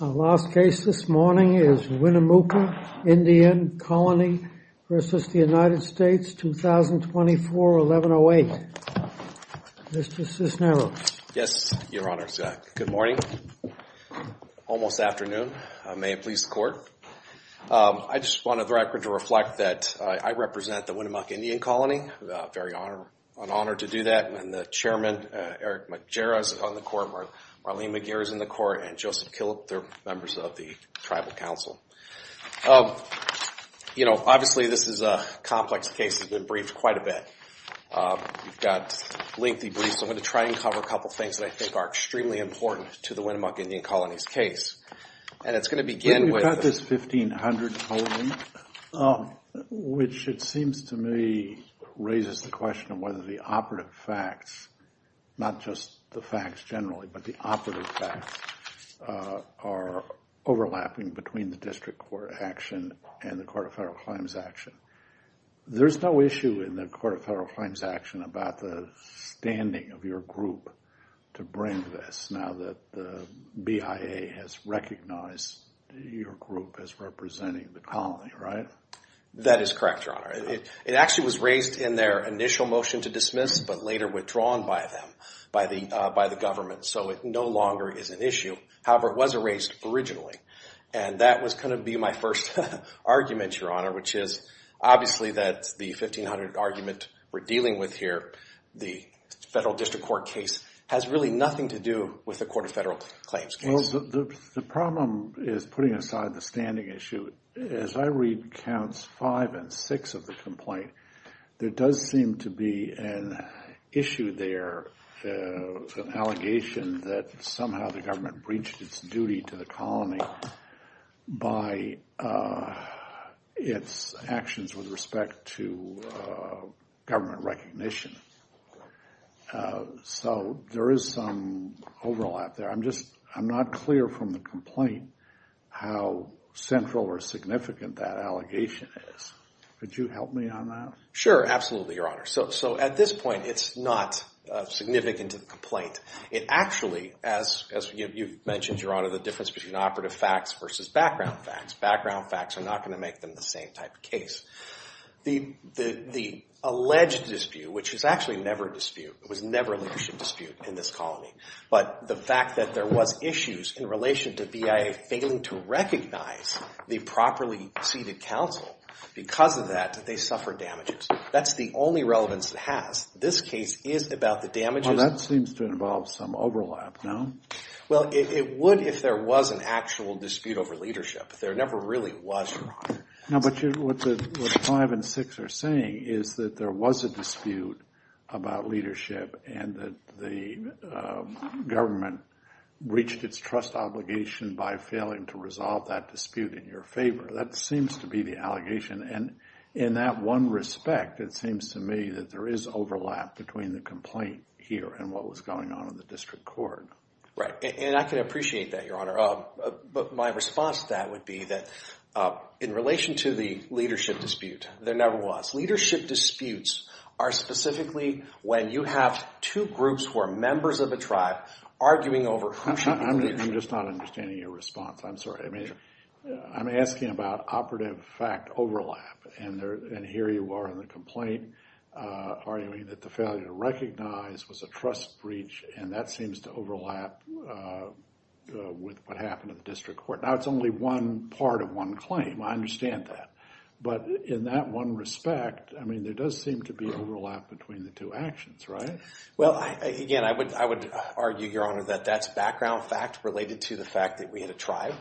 Our last case this morning is Winnemucca Indian Colony v. United States, 2024-1108. Mr. Cisneros. Yes, Your Honor. Good morning. Almost afternoon. May it please the Court. I just wanted the record to reflect that I represent the Winnemucca Indian Colony. I'm very honored to do that. And the Chairman, Eric Majera, is on the Court. Marlene McGeer is on the Court. And Joseph Killip, they're members of the Tribal Council. Obviously, this is a complex case that's been briefed quite a bit. We've got lengthy briefs. I'm going to try and cover a couple of things that I think are extremely important to the Winnemucca Indian Colony's case. We've got this 1500 holding, which it seems to me raises the question of whether the operative facts, not just the facts generally, but the operative facts, are overlapping between the District Court action and the Court of Federal Claims action. There's no issue in the Court of Federal Claims action about the standing of your group to bring this now that the BIA has recognized your group as representing the colony, right? That is correct, Your Honor. It actually was raised in their initial motion to dismiss, but later withdrawn by them, by the government. So it no longer is an issue. However, it was erased originally. And that was going to be my first argument, Your Honor, which is obviously that the 1500 argument we're dealing with here, the Federal District Court case, has really nothing to do with the Court of Federal Claims case. Well, the problem is putting aside the standing issue. As I read Counts 5 and 6 of the complaint, there does seem to be an issue there, an allegation that somehow the government breached its duty to the colony by its actions with respect to government recognition. So there is some overlap there. I'm not clear from the complaint how central or significant that allegation is. Could you help me on that? Sure, absolutely, Your Honor. So at this point, it's not significant to the complaint. It actually, as you've mentioned, Your Honor, the difference between operative facts versus background facts. Background facts are not going to make them the same type of case. The alleged dispute, which is actually never a dispute, it was never a leadership dispute in this colony, but the fact that there was issues in relation to BIA failing to recognize the properly seated counsel, because of that, they suffered damages. That's the only relevance it has. This case is about the damages. Well, that seems to involve some overlap, no? Well, it would if there was an actual dispute over leadership. There never really was, Your Honor. No, but what 5 and 6 are saying is that there was a dispute about leadership and that the government reached its trust obligation by failing to resolve that dispute in your favor. That seems to be the allegation. And in that one respect, it seems to me that there is overlap between the complaint here and what was going on in the district court. Right, and I can appreciate that, Your Honor. But my response to that would be that in relation to the leadership dispute, there never was. Leadership disputes are specifically when you have two groups who are members of a tribe arguing over who should be the leader. I'm just not understanding your response. I'm sorry. I'm asking about operative fact overlap. And here you are in the complaint arguing that the failure to recognize was a trust breach, and that seems to overlap with what happened in the district court. Now, it's only one part of one claim. I understand that. But in that one respect, I mean, there does seem to be overlap between the two actions, right? Well, again, I would argue, Your Honor, that that's background fact related to the fact that we had a tribe.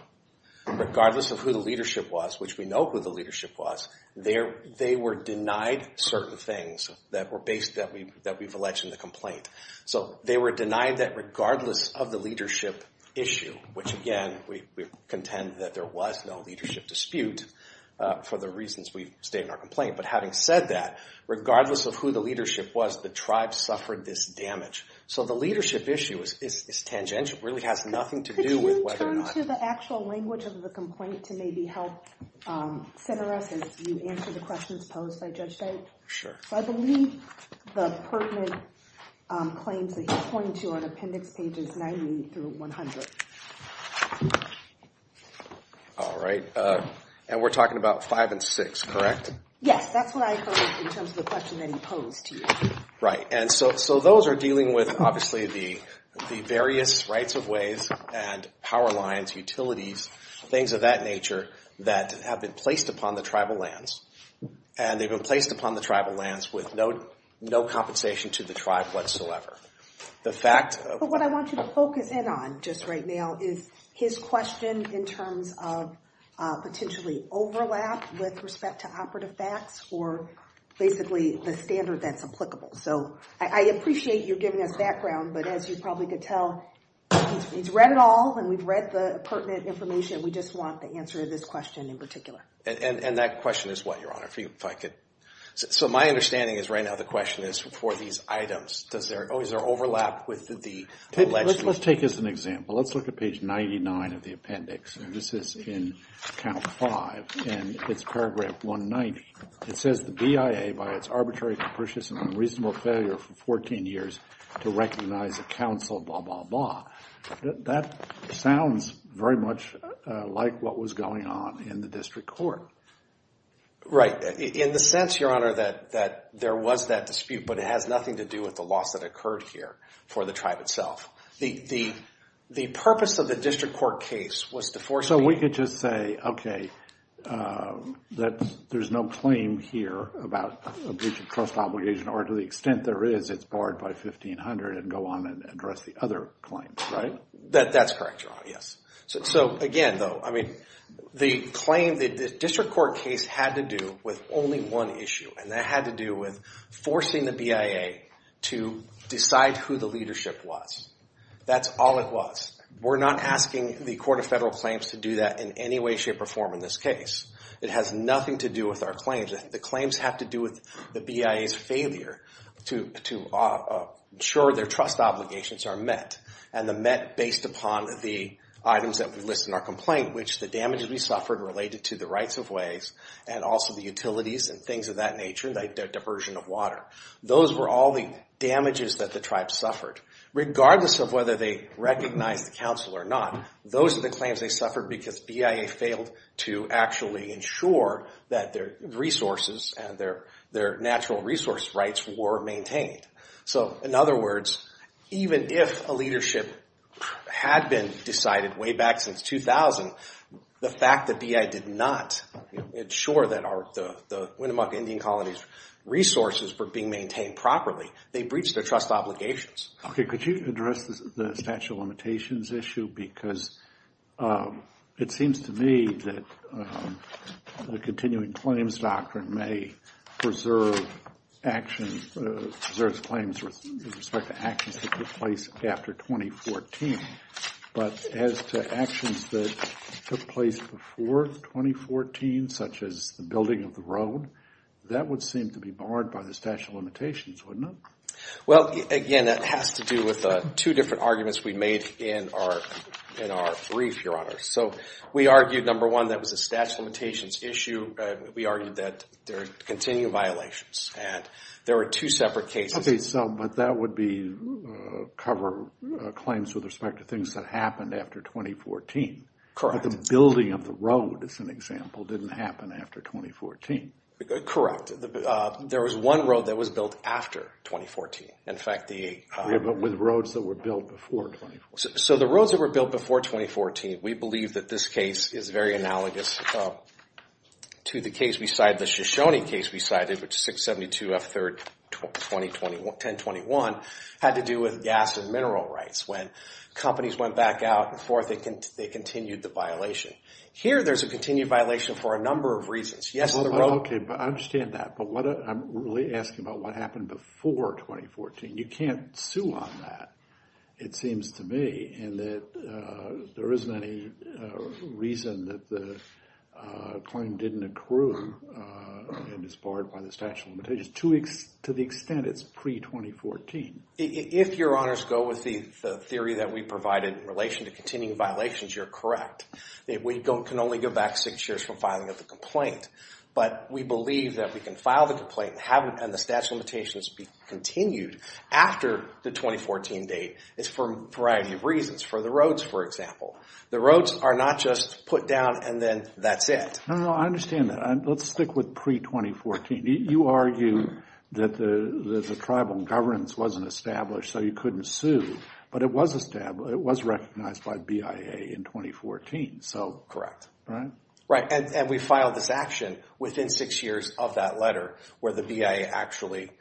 Regardless of who the leadership was, which we know who the leadership was, they were denied certain things that we've alleged in the complaint. So they were denied that regardless of the leadership issue, which, again, we contend that there was no leadership dispute for the reasons we've stated in our complaint. But having said that, regardless of who the leadership was, the tribe suffered this damage. So the leadership issue is tangential. It really has nothing to do with whether or not- Could you turn to the actual language of the complaint to maybe help center us as you answer the questions posed by Judge Stein? Sure. So I believe the pertinent claims that he's pointing to are in appendix pages 90 through 100. All right. And we're talking about five and six, correct? Yes, that's what I heard in terms of the question that he posed to you. And so those are dealing with, obviously, the various rights of ways and power lines, utilities, things of that nature that have been placed upon the tribal lands. And they've been placed upon the tribal lands with no compensation to the tribe whatsoever. But what I want you to focus in on just right now is his question in terms of potentially overlap with respect to operative facts or basically the standard that's applicable. So I appreciate your giving us background, but as you probably could tell, he's read it all, and we've read the pertinent information. We just want the answer to this question in particular. And that question is what, Your Honor? So my understanding is right now the question is for these items. Is there overlap with the legislation? Let's take this as an example. Let's look at page 99 of the appendix. And this is in count five, and it's paragraph 190. It says the BIA, by its arbitrary, capricious, and unreasonable failure for 14 years to recognize a council, blah, blah, blah. That sounds very much like what was going on in the district court. Right. In the sense, Your Honor, that there was that dispute, but it has nothing to do with the loss that occurred here for the tribe itself. The purpose of the district court case was to force people to- So we could just say, okay, that there's no claim here about a breach of trust obligation, or to the extent there is, it's barred by 1500 and go on and address the other claims, right? That's correct, Your Honor, yes. So again, though, I mean, the claim, the district court case had to do with only one issue, and that had to do with forcing the BIA to decide who the leadership was. That's all it was. We're not asking the Court of Federal Claims to do that in any way, shape, or form in this case. It has nothing to do with our claims. The claims have to do with the BIA's failure to ensure their trust obligations are met, and the met based upon the items that we list in our complaint, which the damages we suffered related to the rights of ways and also the utilities and things of that nature, like the diversion of water. Those were all the damages that the tribe suffered. Regardless of whether they recognized the counsel or not, those are the claims they suffered because BIA failed to actually ensure that their resources and their natural resource rights were maintained. So, in other words, even if a leadership had been decided way back since 2000, the fact that BIA did not ensure that the Winnemuck Indian Colony's resources were being maintained properly, they breached their trust obligations. Okay, could you address the statute of limitations issue? Because it seems to me that the continuing claims doctrine may preserve actions, preserves claims with respect to actions that took place after 2014. But as to actions that took place before 2014, such as the building of the road, that would seem to be barred by the statute of limitations, wouldn't it? Well, again, that has to do with two different arguments we made in our brief, Your Honor. So we argued, number one, that was a statute of limitations issue. We argued that there are continuing violations. And there were two separate cases. Okay, but that would cover claims with respect to things that happened after 2014. Correct. But the building of the road, as an example, didn't happen after 2014. Correct. There was one road that was built after 2014. Yeah, but with roads that were built before 2014. So the roads that were built before 2014, we believe that this case is very analogous to the case we cited, the Shoshone case we cited, which is 672F3-1021, had to do with gas and mineral rights. When companies went back out and forth, they continued the violation. Here, there's a continued violation for a number of reasons. Yes, the road. Okay, I understand that. But I'm really asking about what happened before 2014. You can't sue on that, it seems to me, and that there isn't any reason that the claim didn't accrue and is barred by the statute of limitations to the extent it's pre-2014. If Your Honors go with the theory that we provided in relation to continuing violations, you're correct. We can only go back six years from filing of the complaint, but we believe that we can file the complaint and the statute of limitations be continued after the 2014 date is for a variety of reasons, for the roads, for example. The roads are not just put down and then that's it. No, no, I understand that. Let's stick with pre-2014. You argue that the tribal governance wasn't established so you couldn't sue, but it was recognized by BIA in 2014. Correct. Right? Right, and we filed this action within six years of that letter where the BIA actually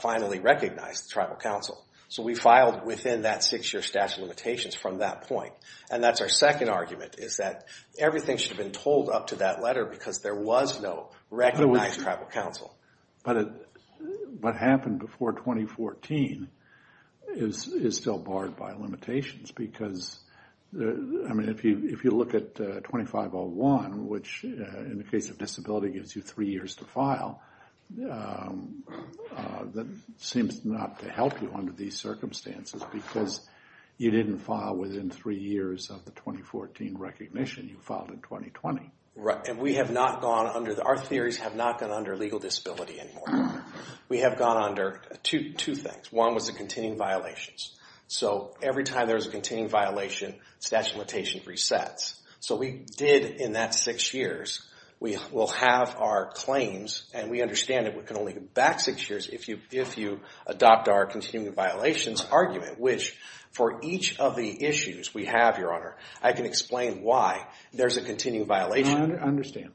finally recognized the tribal council. So we filed within that six-year statute of limitations from that point. And that's our second argument is that everything should have been told up to that letter because there was no recognized tribal council. But what happened before 2014 is still barred by limitations because if you look at 2501, which in the case of disability gives you three years to file, that seems not to help you under these circumstances because you didn't file within three years of the 2014 recognition. You filed in 2020. Right, and we have not gone under—our theories have not gone under legal disability anymore. We have gone under two things. One was the continuing violations. So every time there's a continuing violation, statute of limitations resets. So we did in that six years. We will have our claims, and we understand that we can only go back six years if you adopt our continuing violations argument, which for each of the issues we have, Your Honor, I can explain why there's a continuing violation. I understand.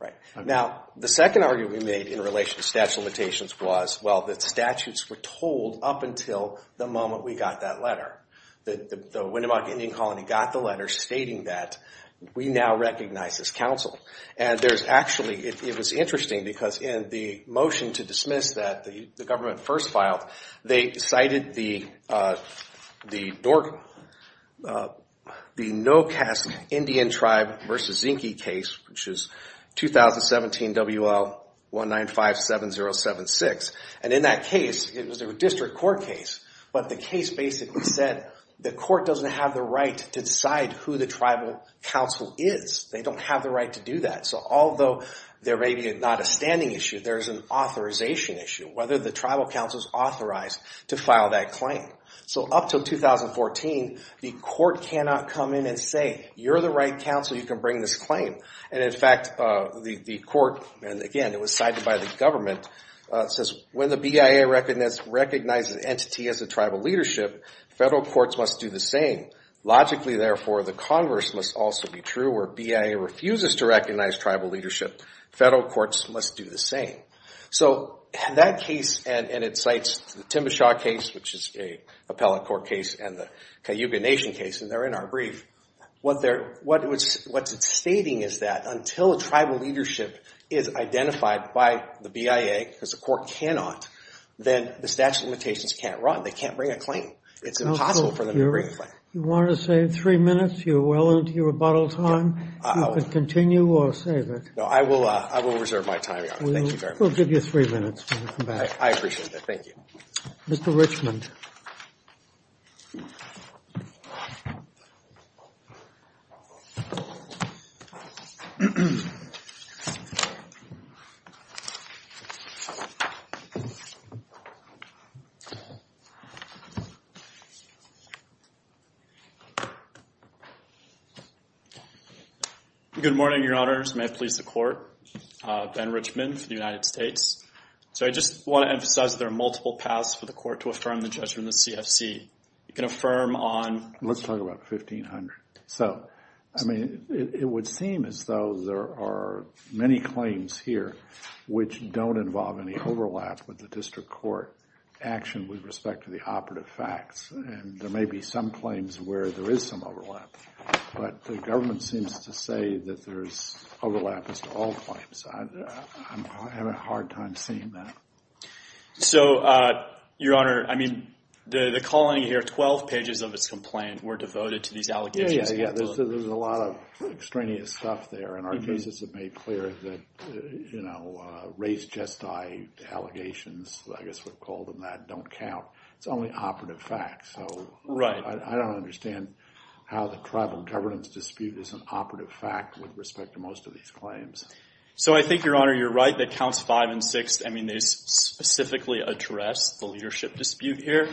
Right. Now, the second argument we made in relation to statute of limitations was, well, that statutes were told up until the moment we got that letter. The Winnemucca Indian Colony got the letter stating that we now recognize this council. And there's actually—it was interesting because in the motion to dismiss that the government first filed, they cited the NOCAS Indian Tribe v. Zinke case, which is 2017 WL-1957076. And in that case, it was a district court case. But the case basically said the court doesn't have the right to decide who the tribal council is. They don't have the right to do that. So although there may be not a standing issue, there's an authorization issue. Whether the tribal council is authorized to file that claim. So up until 2014, the court cannot come in and say, you're the right council, you can bring this claim. And, in fact, the court—and, again, it was cited by the government—says, when the BIA recognizes an entity as a tribal leadership, federal courts must do the same. Logically, therefore, the Congress must also be true. Where BIA refuses to recognize tribal leadership, federal courts must do the same. So that case, and it cites the Timbershaw case, which is an appellate court case, and the Cayuga Nation case, and they're in our brief, what it's stating is that until a tribal leadership is identified by the BIA, because the court cannot, then the statute of limitations can't run. They can't bring a claim. It's impossible for them to bring a claim. You want to save three minutes? You're well into your rebuttal time. You can continue or save it. No, I will reserve my time, Your Honor. Thank you very much. We'll give you three minutes. I appreciate that. Thank you. Mr. Richmond. Good morning, Your Honors. May it please the Court. Ben Richmond for the United States. So I just want to emphasize that there are multiple paths for the court to affirm the judgment of the CFC. You can affirm on- Let's talk about 1500. So, I mean, it would seem as though there are many claims here which don't involve any overlap with the district court action with respect to the operative facts. And there may be some claims where there is some overlap, but the government seems to say that there's overlap as to all claims. I'm having a hard time seeing that. So, Your Honor, I mean, the calling here, 12 pages of its complaint were devoted to these allegations. Yeah, yeah, yeah. There's a lot of extraneous stuff there, and our cases have made clear that, you know, race, gestile allegations, I guess we'll call them that, don't count. It's only operative facts. Right. I don't understand how the tribal governance dispute is an operative fact with respect to most of these claims. So I think, Your Honor, you're right that counts 5 and 6, I mean, they specifically address the leadership dispute here,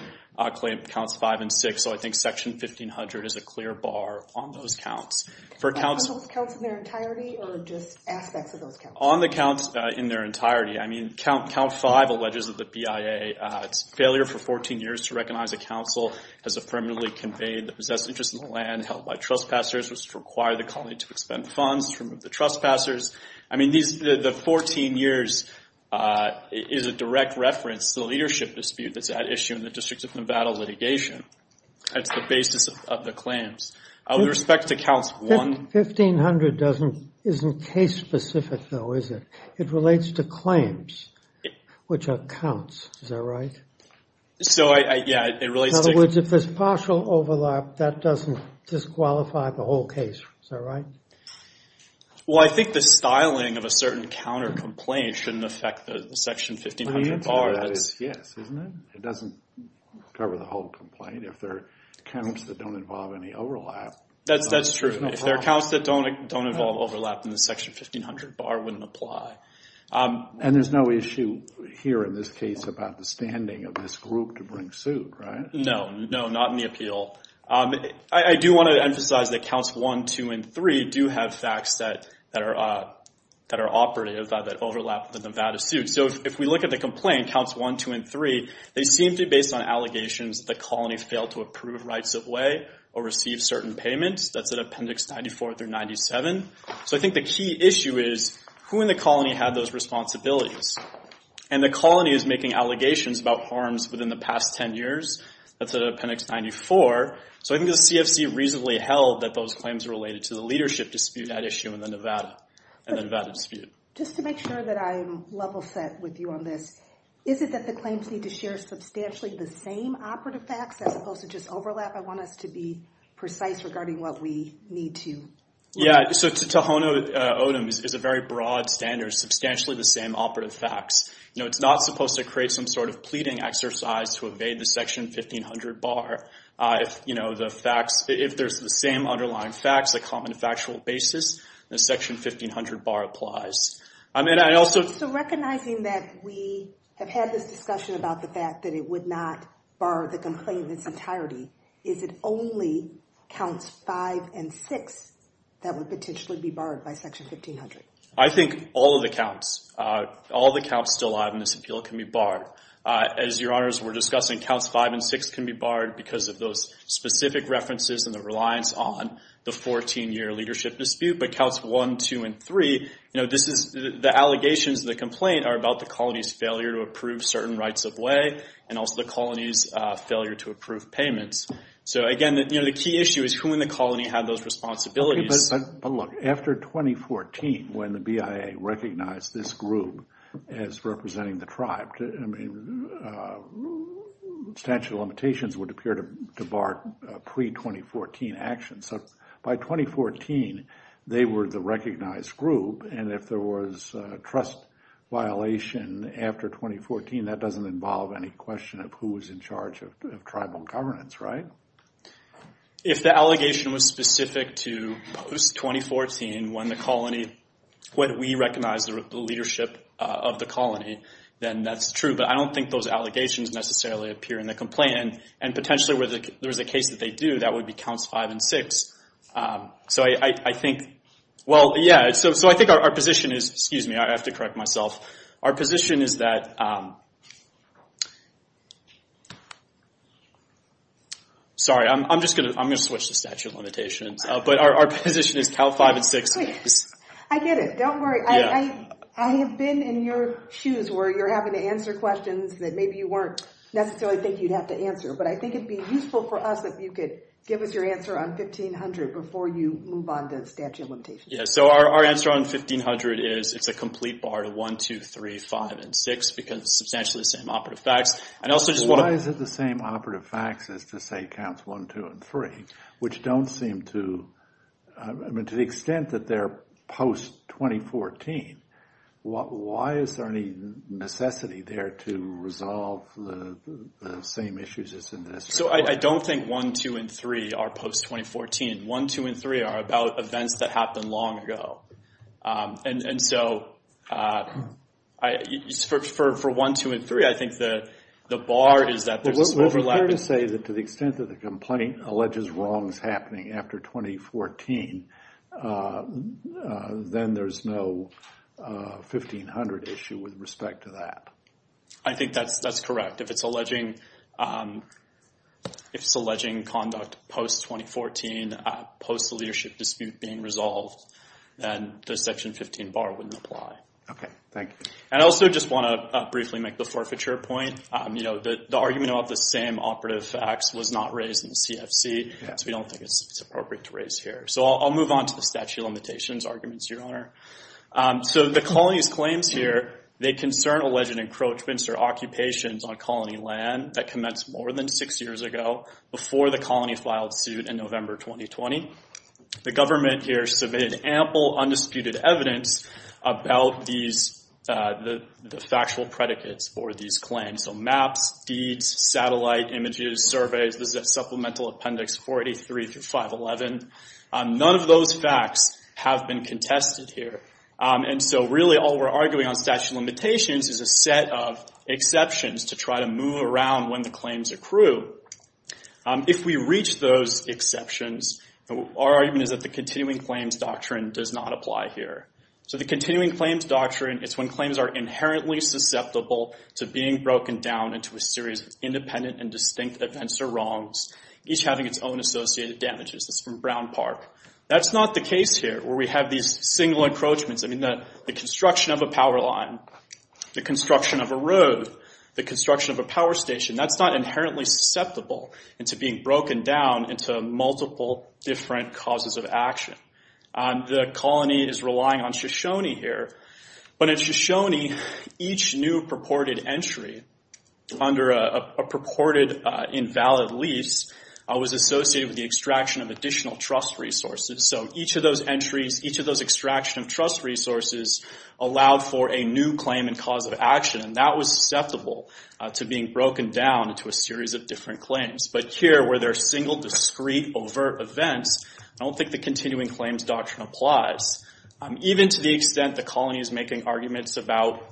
claim counts 5 and 6. So I think section 1500 is a clear bar on those counts. On those counts in their entirety or just aspects of those counts? On the counts in their entirety. I mean, count 5 alleges that the BIA's failure for 14 years to recognize the council has affirmatively conveyed the possessed interest in the land held by trespassers was to require the colony to expend funds to remove the trespassers. I mean, the 14 years is a direct reference to the leadership dispute that's at issue in the District of Nevada litigation. That's the basis of the claims. With respect to counts 1. 1500 isn't case specific, though, is it? It relates to claims, which are counts. Is that right? So, yeah, it relates to. In other words, if there's partial overlap, that doesn't disqualify the whole case. Is that right? Well, I think the styling of a certain counter complaint shouldn't affect the section 1500 bar. The answer to that is yes, isn't it? It doesn't cover the whole complaint. If there are counts that don't involve any overlap. That's true. If there are counts that don't involve overlap, then the section 1500 bar wouldn't apply. And there's no issue here in this case about the standing of this group to bring suit, right? No, no, not in the appeal. I do want to emphasize that counts 1, 2, and 3 do have facts that are operative that overlap the Nevada suit. So if we look at the complaint, counts 1, 2, and 3, they seem to be based on allegations that the colony failed to approve rights-of-way or receive certain payments. That's in Appendix 94 through 97. So I think the key issue is, who in the colony had those responsibilities? And the colony is making allegations about harms within the past 10 years. That's in Appendix 94. So I think the CFC reasonably held that those claims are related to the leadership dispute at issue in the Nevada dispute. Just to make sure that I'm level-set with you on this, is it that the claims need to share substantially the same operative facts as opposed to just overlap? I want us to be precise regarding what we need to look at. Yeah, so Tohono O'odham is a very broad standard, substantially the same operative facts. It's not supposed to create some sort of pleading exercise to evade the Section 1500 bar. If there's the same underlying facts, a common factual basis, the Section 1500 bar applies. So recognizing that we have had this discussion about the fact that it would not bar the complaint in its entirety, is it only Counts 5 and 6 that would potentially be barred by Section 1500? I think all of the counts, all of the counts still alive in this appeal can be barred. As Your Honors were discussing, Counts 5 and 6 can be barred because of those specific references and the reliance on the 14-year leadership dispute. But Counts 1, 2, and 3, the allegations in the complaint are about the colony's failure to approve certain rights-of-way and also the colony's failure to approve payments. So again, the key issue is who in the colony had those responsibilities. But look, after 2014, when the BIA recognized this group as representing the tribe, I mean, statute of limitations would appear to bar pre-2014 actions. So by 2014, they were the recognized group, and if there was a trust violation after 2014, that doesn't involve any question of who was in charge of tribal governance, right? If the allegation was specific to post-2014, when the colony, when we recognized the leadership of the colony, then that's true. But I don't think those allegations necessarily appear in the complaint. And potentially, if there was a case that they do, that would be Counts 5 and 6. So I think, well, yeah, so I think our position is, excuse me, I have to correct myself, our position is that... Sorry, I'm just going to switch to statute of limitations. But our position is Counts 5 and 6 is... I get it, don't worry. I have been in your shoes where you're having to answer questions that maybe you weren't necessarily thinking you'd have to answer. But I think it'd be useful for us if you could give us your answer on 1500 before you move on to statute of limitations. Yeah, so our answer on 1500 is it's a complete bar to 1, 2, 3, 5, and 6 because it's substantially the same operative facts. Why is it the same operative facts as to say Counts 1, 2, and 3, which don't seem to... I mean, to the extent that they're post-2014, why is there any necessity there to resolve the same issues as in this report? So I don't think 1, 2, and 3 are post-2014. 1, 2, and 3 are about events that happened long ago. And so for 1, 2, and 3, I think the bar is that there's this overlap... Well, it's fair to say that to the extent that the complaint alleges wrongs happening after 2014, then there's no 1500 issue with respect to that. I think that's correct. If it's alleging conduct post-2014, post-leadership dispute being resolved, then the Section 15 bar wouldn't apply. Okay, thank you. And I also just want to briefly make the forfeiture point. The argument about the same operative facts was not raised in the CFC, so we don't think it's appropriate to raise here. So I'll move on to the statute of limitations arguments, So the colony's claims here, they concern alleged encroachments or occupations on colony land that commenced more than six years ago before the colony filed suit in November 2020. The government here submitted ample undisputed evidence about the factual predicates for these claims. So maps, deeds, satellite images, surveys, this is at Supplemental Appendix 43 through 511. None of those facts have been contested here. And so really all we're arguing on statute of limitations is a set of exceptions to try to move around when the claims accrue. If we reach those exceptions, our argument is that the continuing claims doctrine does not apply here. So the continuing claims doctrine, it's when claims are inherently susceptible to being broken down into a series of independent and distinct events or wrongs, each having its own associated damages. This is from Brown Park. That's not the case here, where we have these single encroachments. I mean, the construction of a power line, the construction of a road, the construction of a power station, that's not inherently susceptible into being broken down into multiple different causes of action. The colony is relying on Shoshone here. But in Shoshone, each new purported entry under a purported invalid lease was associated with the extraction of additional trust resources. So each of those entries, each of those extraction of trust resources allowed for a new claim and cause of action, and that was susceptible to being broken down into a series of different claims. But here, where there are single, discrete, overt events, I don't think the continuing claims doctrine applies. Even to the extent the colony is making arguments about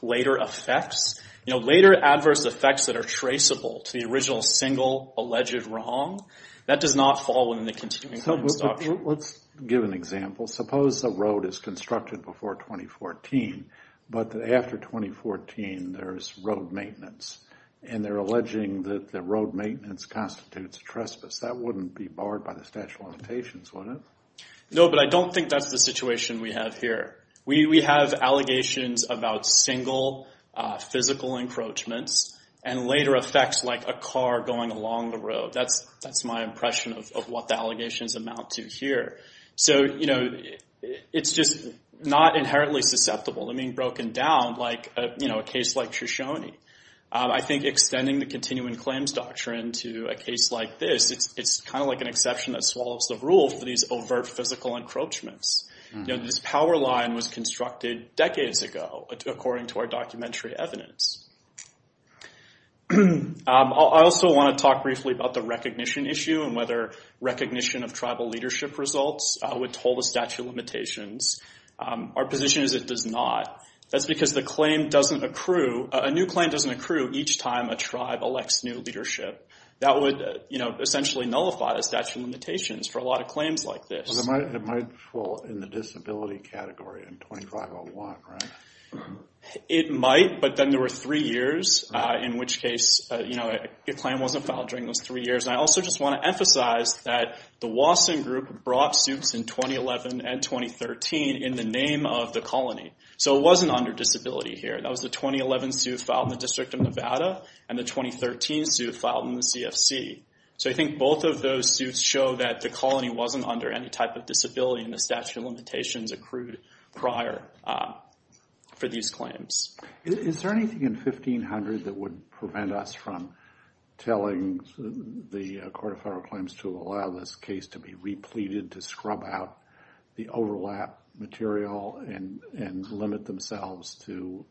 later effects, later adverse effects that are traceable to the original single alleged wrong, that does not fall within the continuing claims doctrine. Let's give an example. Suppose a road is constructed before 2014, but after 2014, there's road maintenance, and they're alleging that the road maintenance constitutes trespass. That wouldn't be barred by the statute of limitations, would it? No, but I don't think that's the situation we have here. We have allegations about single physical encroachments and later effects like a car going along the road. That's my impression of what the allegations amount to here. It's just not inherently susceptible to being broken down like a case like Shoshone. I think extending the continuing claims doctrine to a case like this, it's kind of like an exception that swallows the rule for these overt physical encroachments. This power line was constructed decades ago, according to our documentary evidence. I also want to talk briefly about the recognition issue and whether recognition of tribal leadership results would hold the statute of limitations. Our position is it does not. That's because a new claim doesn't accrue each time a tribe elects new leadership. That would essentially nullify the statute of limitations for a lot of claims like this. It might fall in the disability category in 2501, right? It might, but then there were three years, in which case a claim wasn't filed during those three years. I also just want to emphasize that the Wasson Group brought suits in 2011 and 2013 in the name of the colony. It wasn't under disability here. That was the 2011 suit filed in the District of Nevada and the 2013 suit filed in the CFC. I think both of those suits show that the colony wasn't under any type of disability in the statute of limitations accrued prior for these claims. Is there anything in 1500 that would prevent us from telling the Court of Federal Claims to allow this case to be repleted to scrub out the overlap material and limit themselves to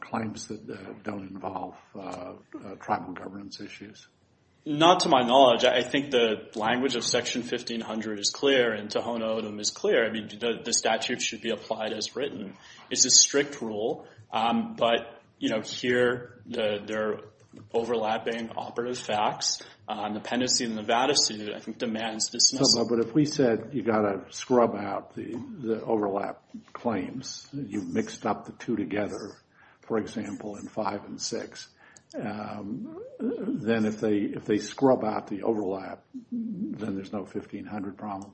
claims that don't involve tribal governance issues? Not to my knowledge. I think the language of Section 1500 is clear and Tohono O'odham is clear. The statute should be applied as written. It's a strict rule, but here they're overlapping operative facts. Dependency in the Nevada suit I think demands dismissal. But if we said you've got to scrub out the overlap claims, you've mixed up the two together, for example, in five and six, then if they scrub out the overlap, then there's no 1500 problem?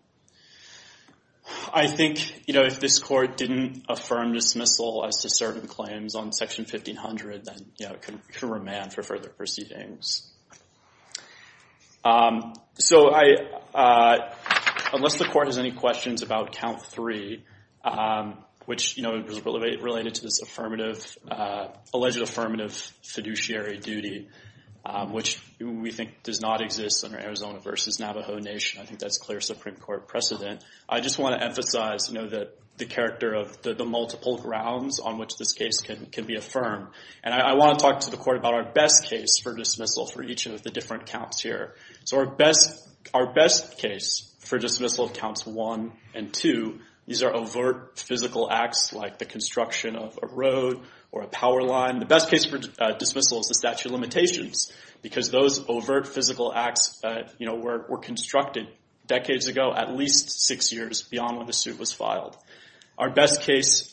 I think if this Court didn't affirm dismissal as to certain claims on Section 1500, then it could remain for further proceedings. So unless the Court has any questions about Count 3, which is related to this alleged affirmative fiduciary duty, which we think does not exist under Arizona v. Navajo Nation, I think that's clear Supreme Court precedent. I just want to emphasize the character of the multiple grounds on which this case can be affirmed. I want to talk to the Court about our best case for dismissal for each of the different counts here. Our best case for dismissal of Counts 1 and 2, these are overt physical acts like the construction of a road or a power line. The best case for dismissal is the statute of limitations because those overt physical acts were constructed decades ago, at least six years beyond when the suit was filed. Our best case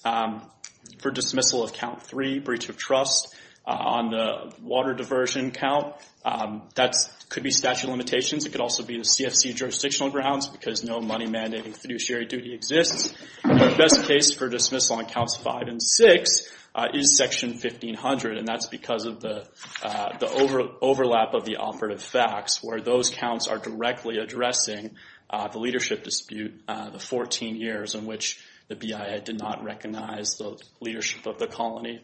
for dismissal of Count 3, breach of trust, on the water diversion count, that could be statute of limitations. It could also be the CFC jurisdictional grounds because no money-mandating fiduciary duty exists. Our best case for dismissal on Counts 5 and 6 is Section 1500, and that's because of the overlap of the operative facts where those counts are directly addressing the leadership dispute, the 14 years in which the BIA did not recognize the leadership of the colony.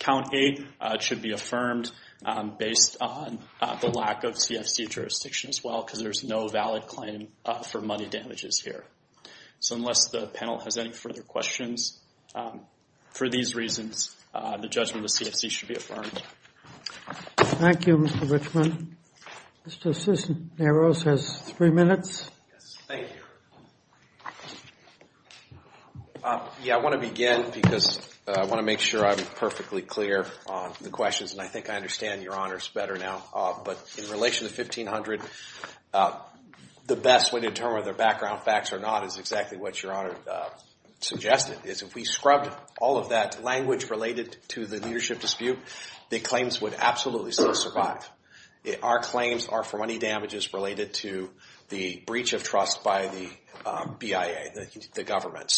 Count 8 should be affirmed based on the lack of CFC jurisdiction as well because there's no valid claim for money damages here. So unless the panel has any further questions, for these reasons, the judgment of CFC should be affirmed. Thank you, Mr. Richman. Mr. Cisneros has three minutes. Yes, thank you. Yeah, I want to begin because I want to make sure I'm perfectly clear on the questions, and I think I understand Your Honors better now. But in relation to 1500, the best way to determine whether background facts or not is exactly what Your Honor suggested, is if we scrubbed all of that language related to the leadership dispute, the claims would absolutely still survive. Our claims are for money damages related to the breach of trust by the BIA, the government.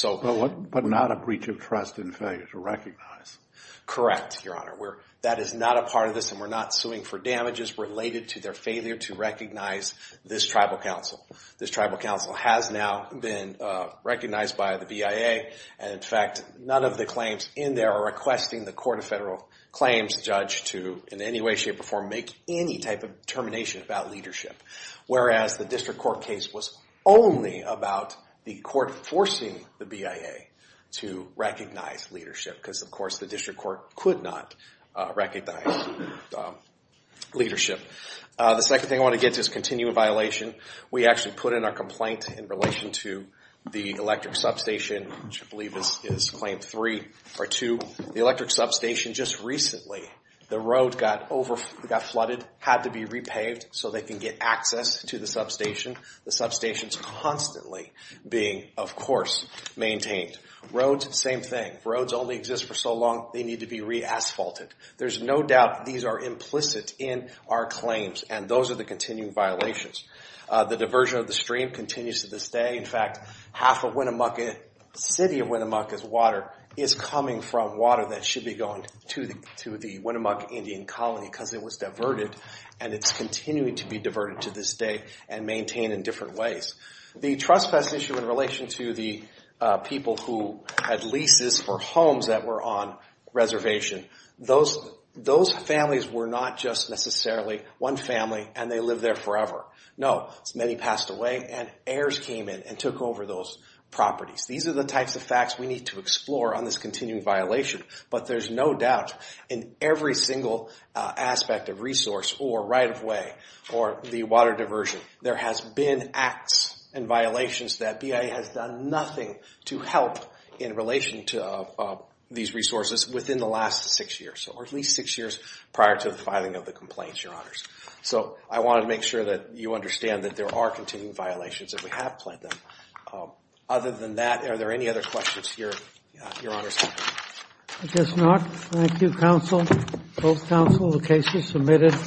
But not a breach of trust in failure to recognize. Correct, Your Honor. That is not a part of this, and we're not suing for damages related to their failure to recognize this tribal council. This tribal council has now been recognized by the BIA, and in fact, none of the claims in there are requesting the Court of Federal Claims judge to in any way, shape, or form make any type of determination about leadership. Whereas the district court case was only about the court forcing the BIA to recognize leadership, because of course the district court could not recognize leadership. The second thing I want to get to is continuing violation. We actually put in our complaint in relation to the electric substation, which I believe is Claim 3 or 2. The electric substation just recently, the road got flooded, had to be repaved so they can get access to the substation. The substation's constantly being, of course, maintained. Roads, same thing. Roads only exist for so long they need to be re-asphalted. There's no doubt these are implicit in our claims, and those are the continuing violations. The diversion of the stream continues to this day. In fact, half of Winnemucca, the city of Winnemucca's water, is coming from water that should be going to the Winnemucca Indian colony because it was diverted, and it's continuing to be diverted to this day and maintained in different ways. The trespass issue in relation to the people who had leases for homes that were on reservation, those families were not just necessarily one family and they lived there forever. No, many passed away and heirs came in and took over those properties. These are the types of facts we need to explore on this continuing violation, but there's no doubt in every single aspect of resource or right-of-way or the water diversion, there has been acts and violations that BIA has done nothing to help in relation to these resources within the last six years or at least six years prior to the filing of the complaints, Your Honors. So I wanted to make sure that you understand that there are continuing violations and we have planned them. Other than that, are there any other questions for Your Honors? I guess not. Thank you, counsel. Both counsel, the case is submitted.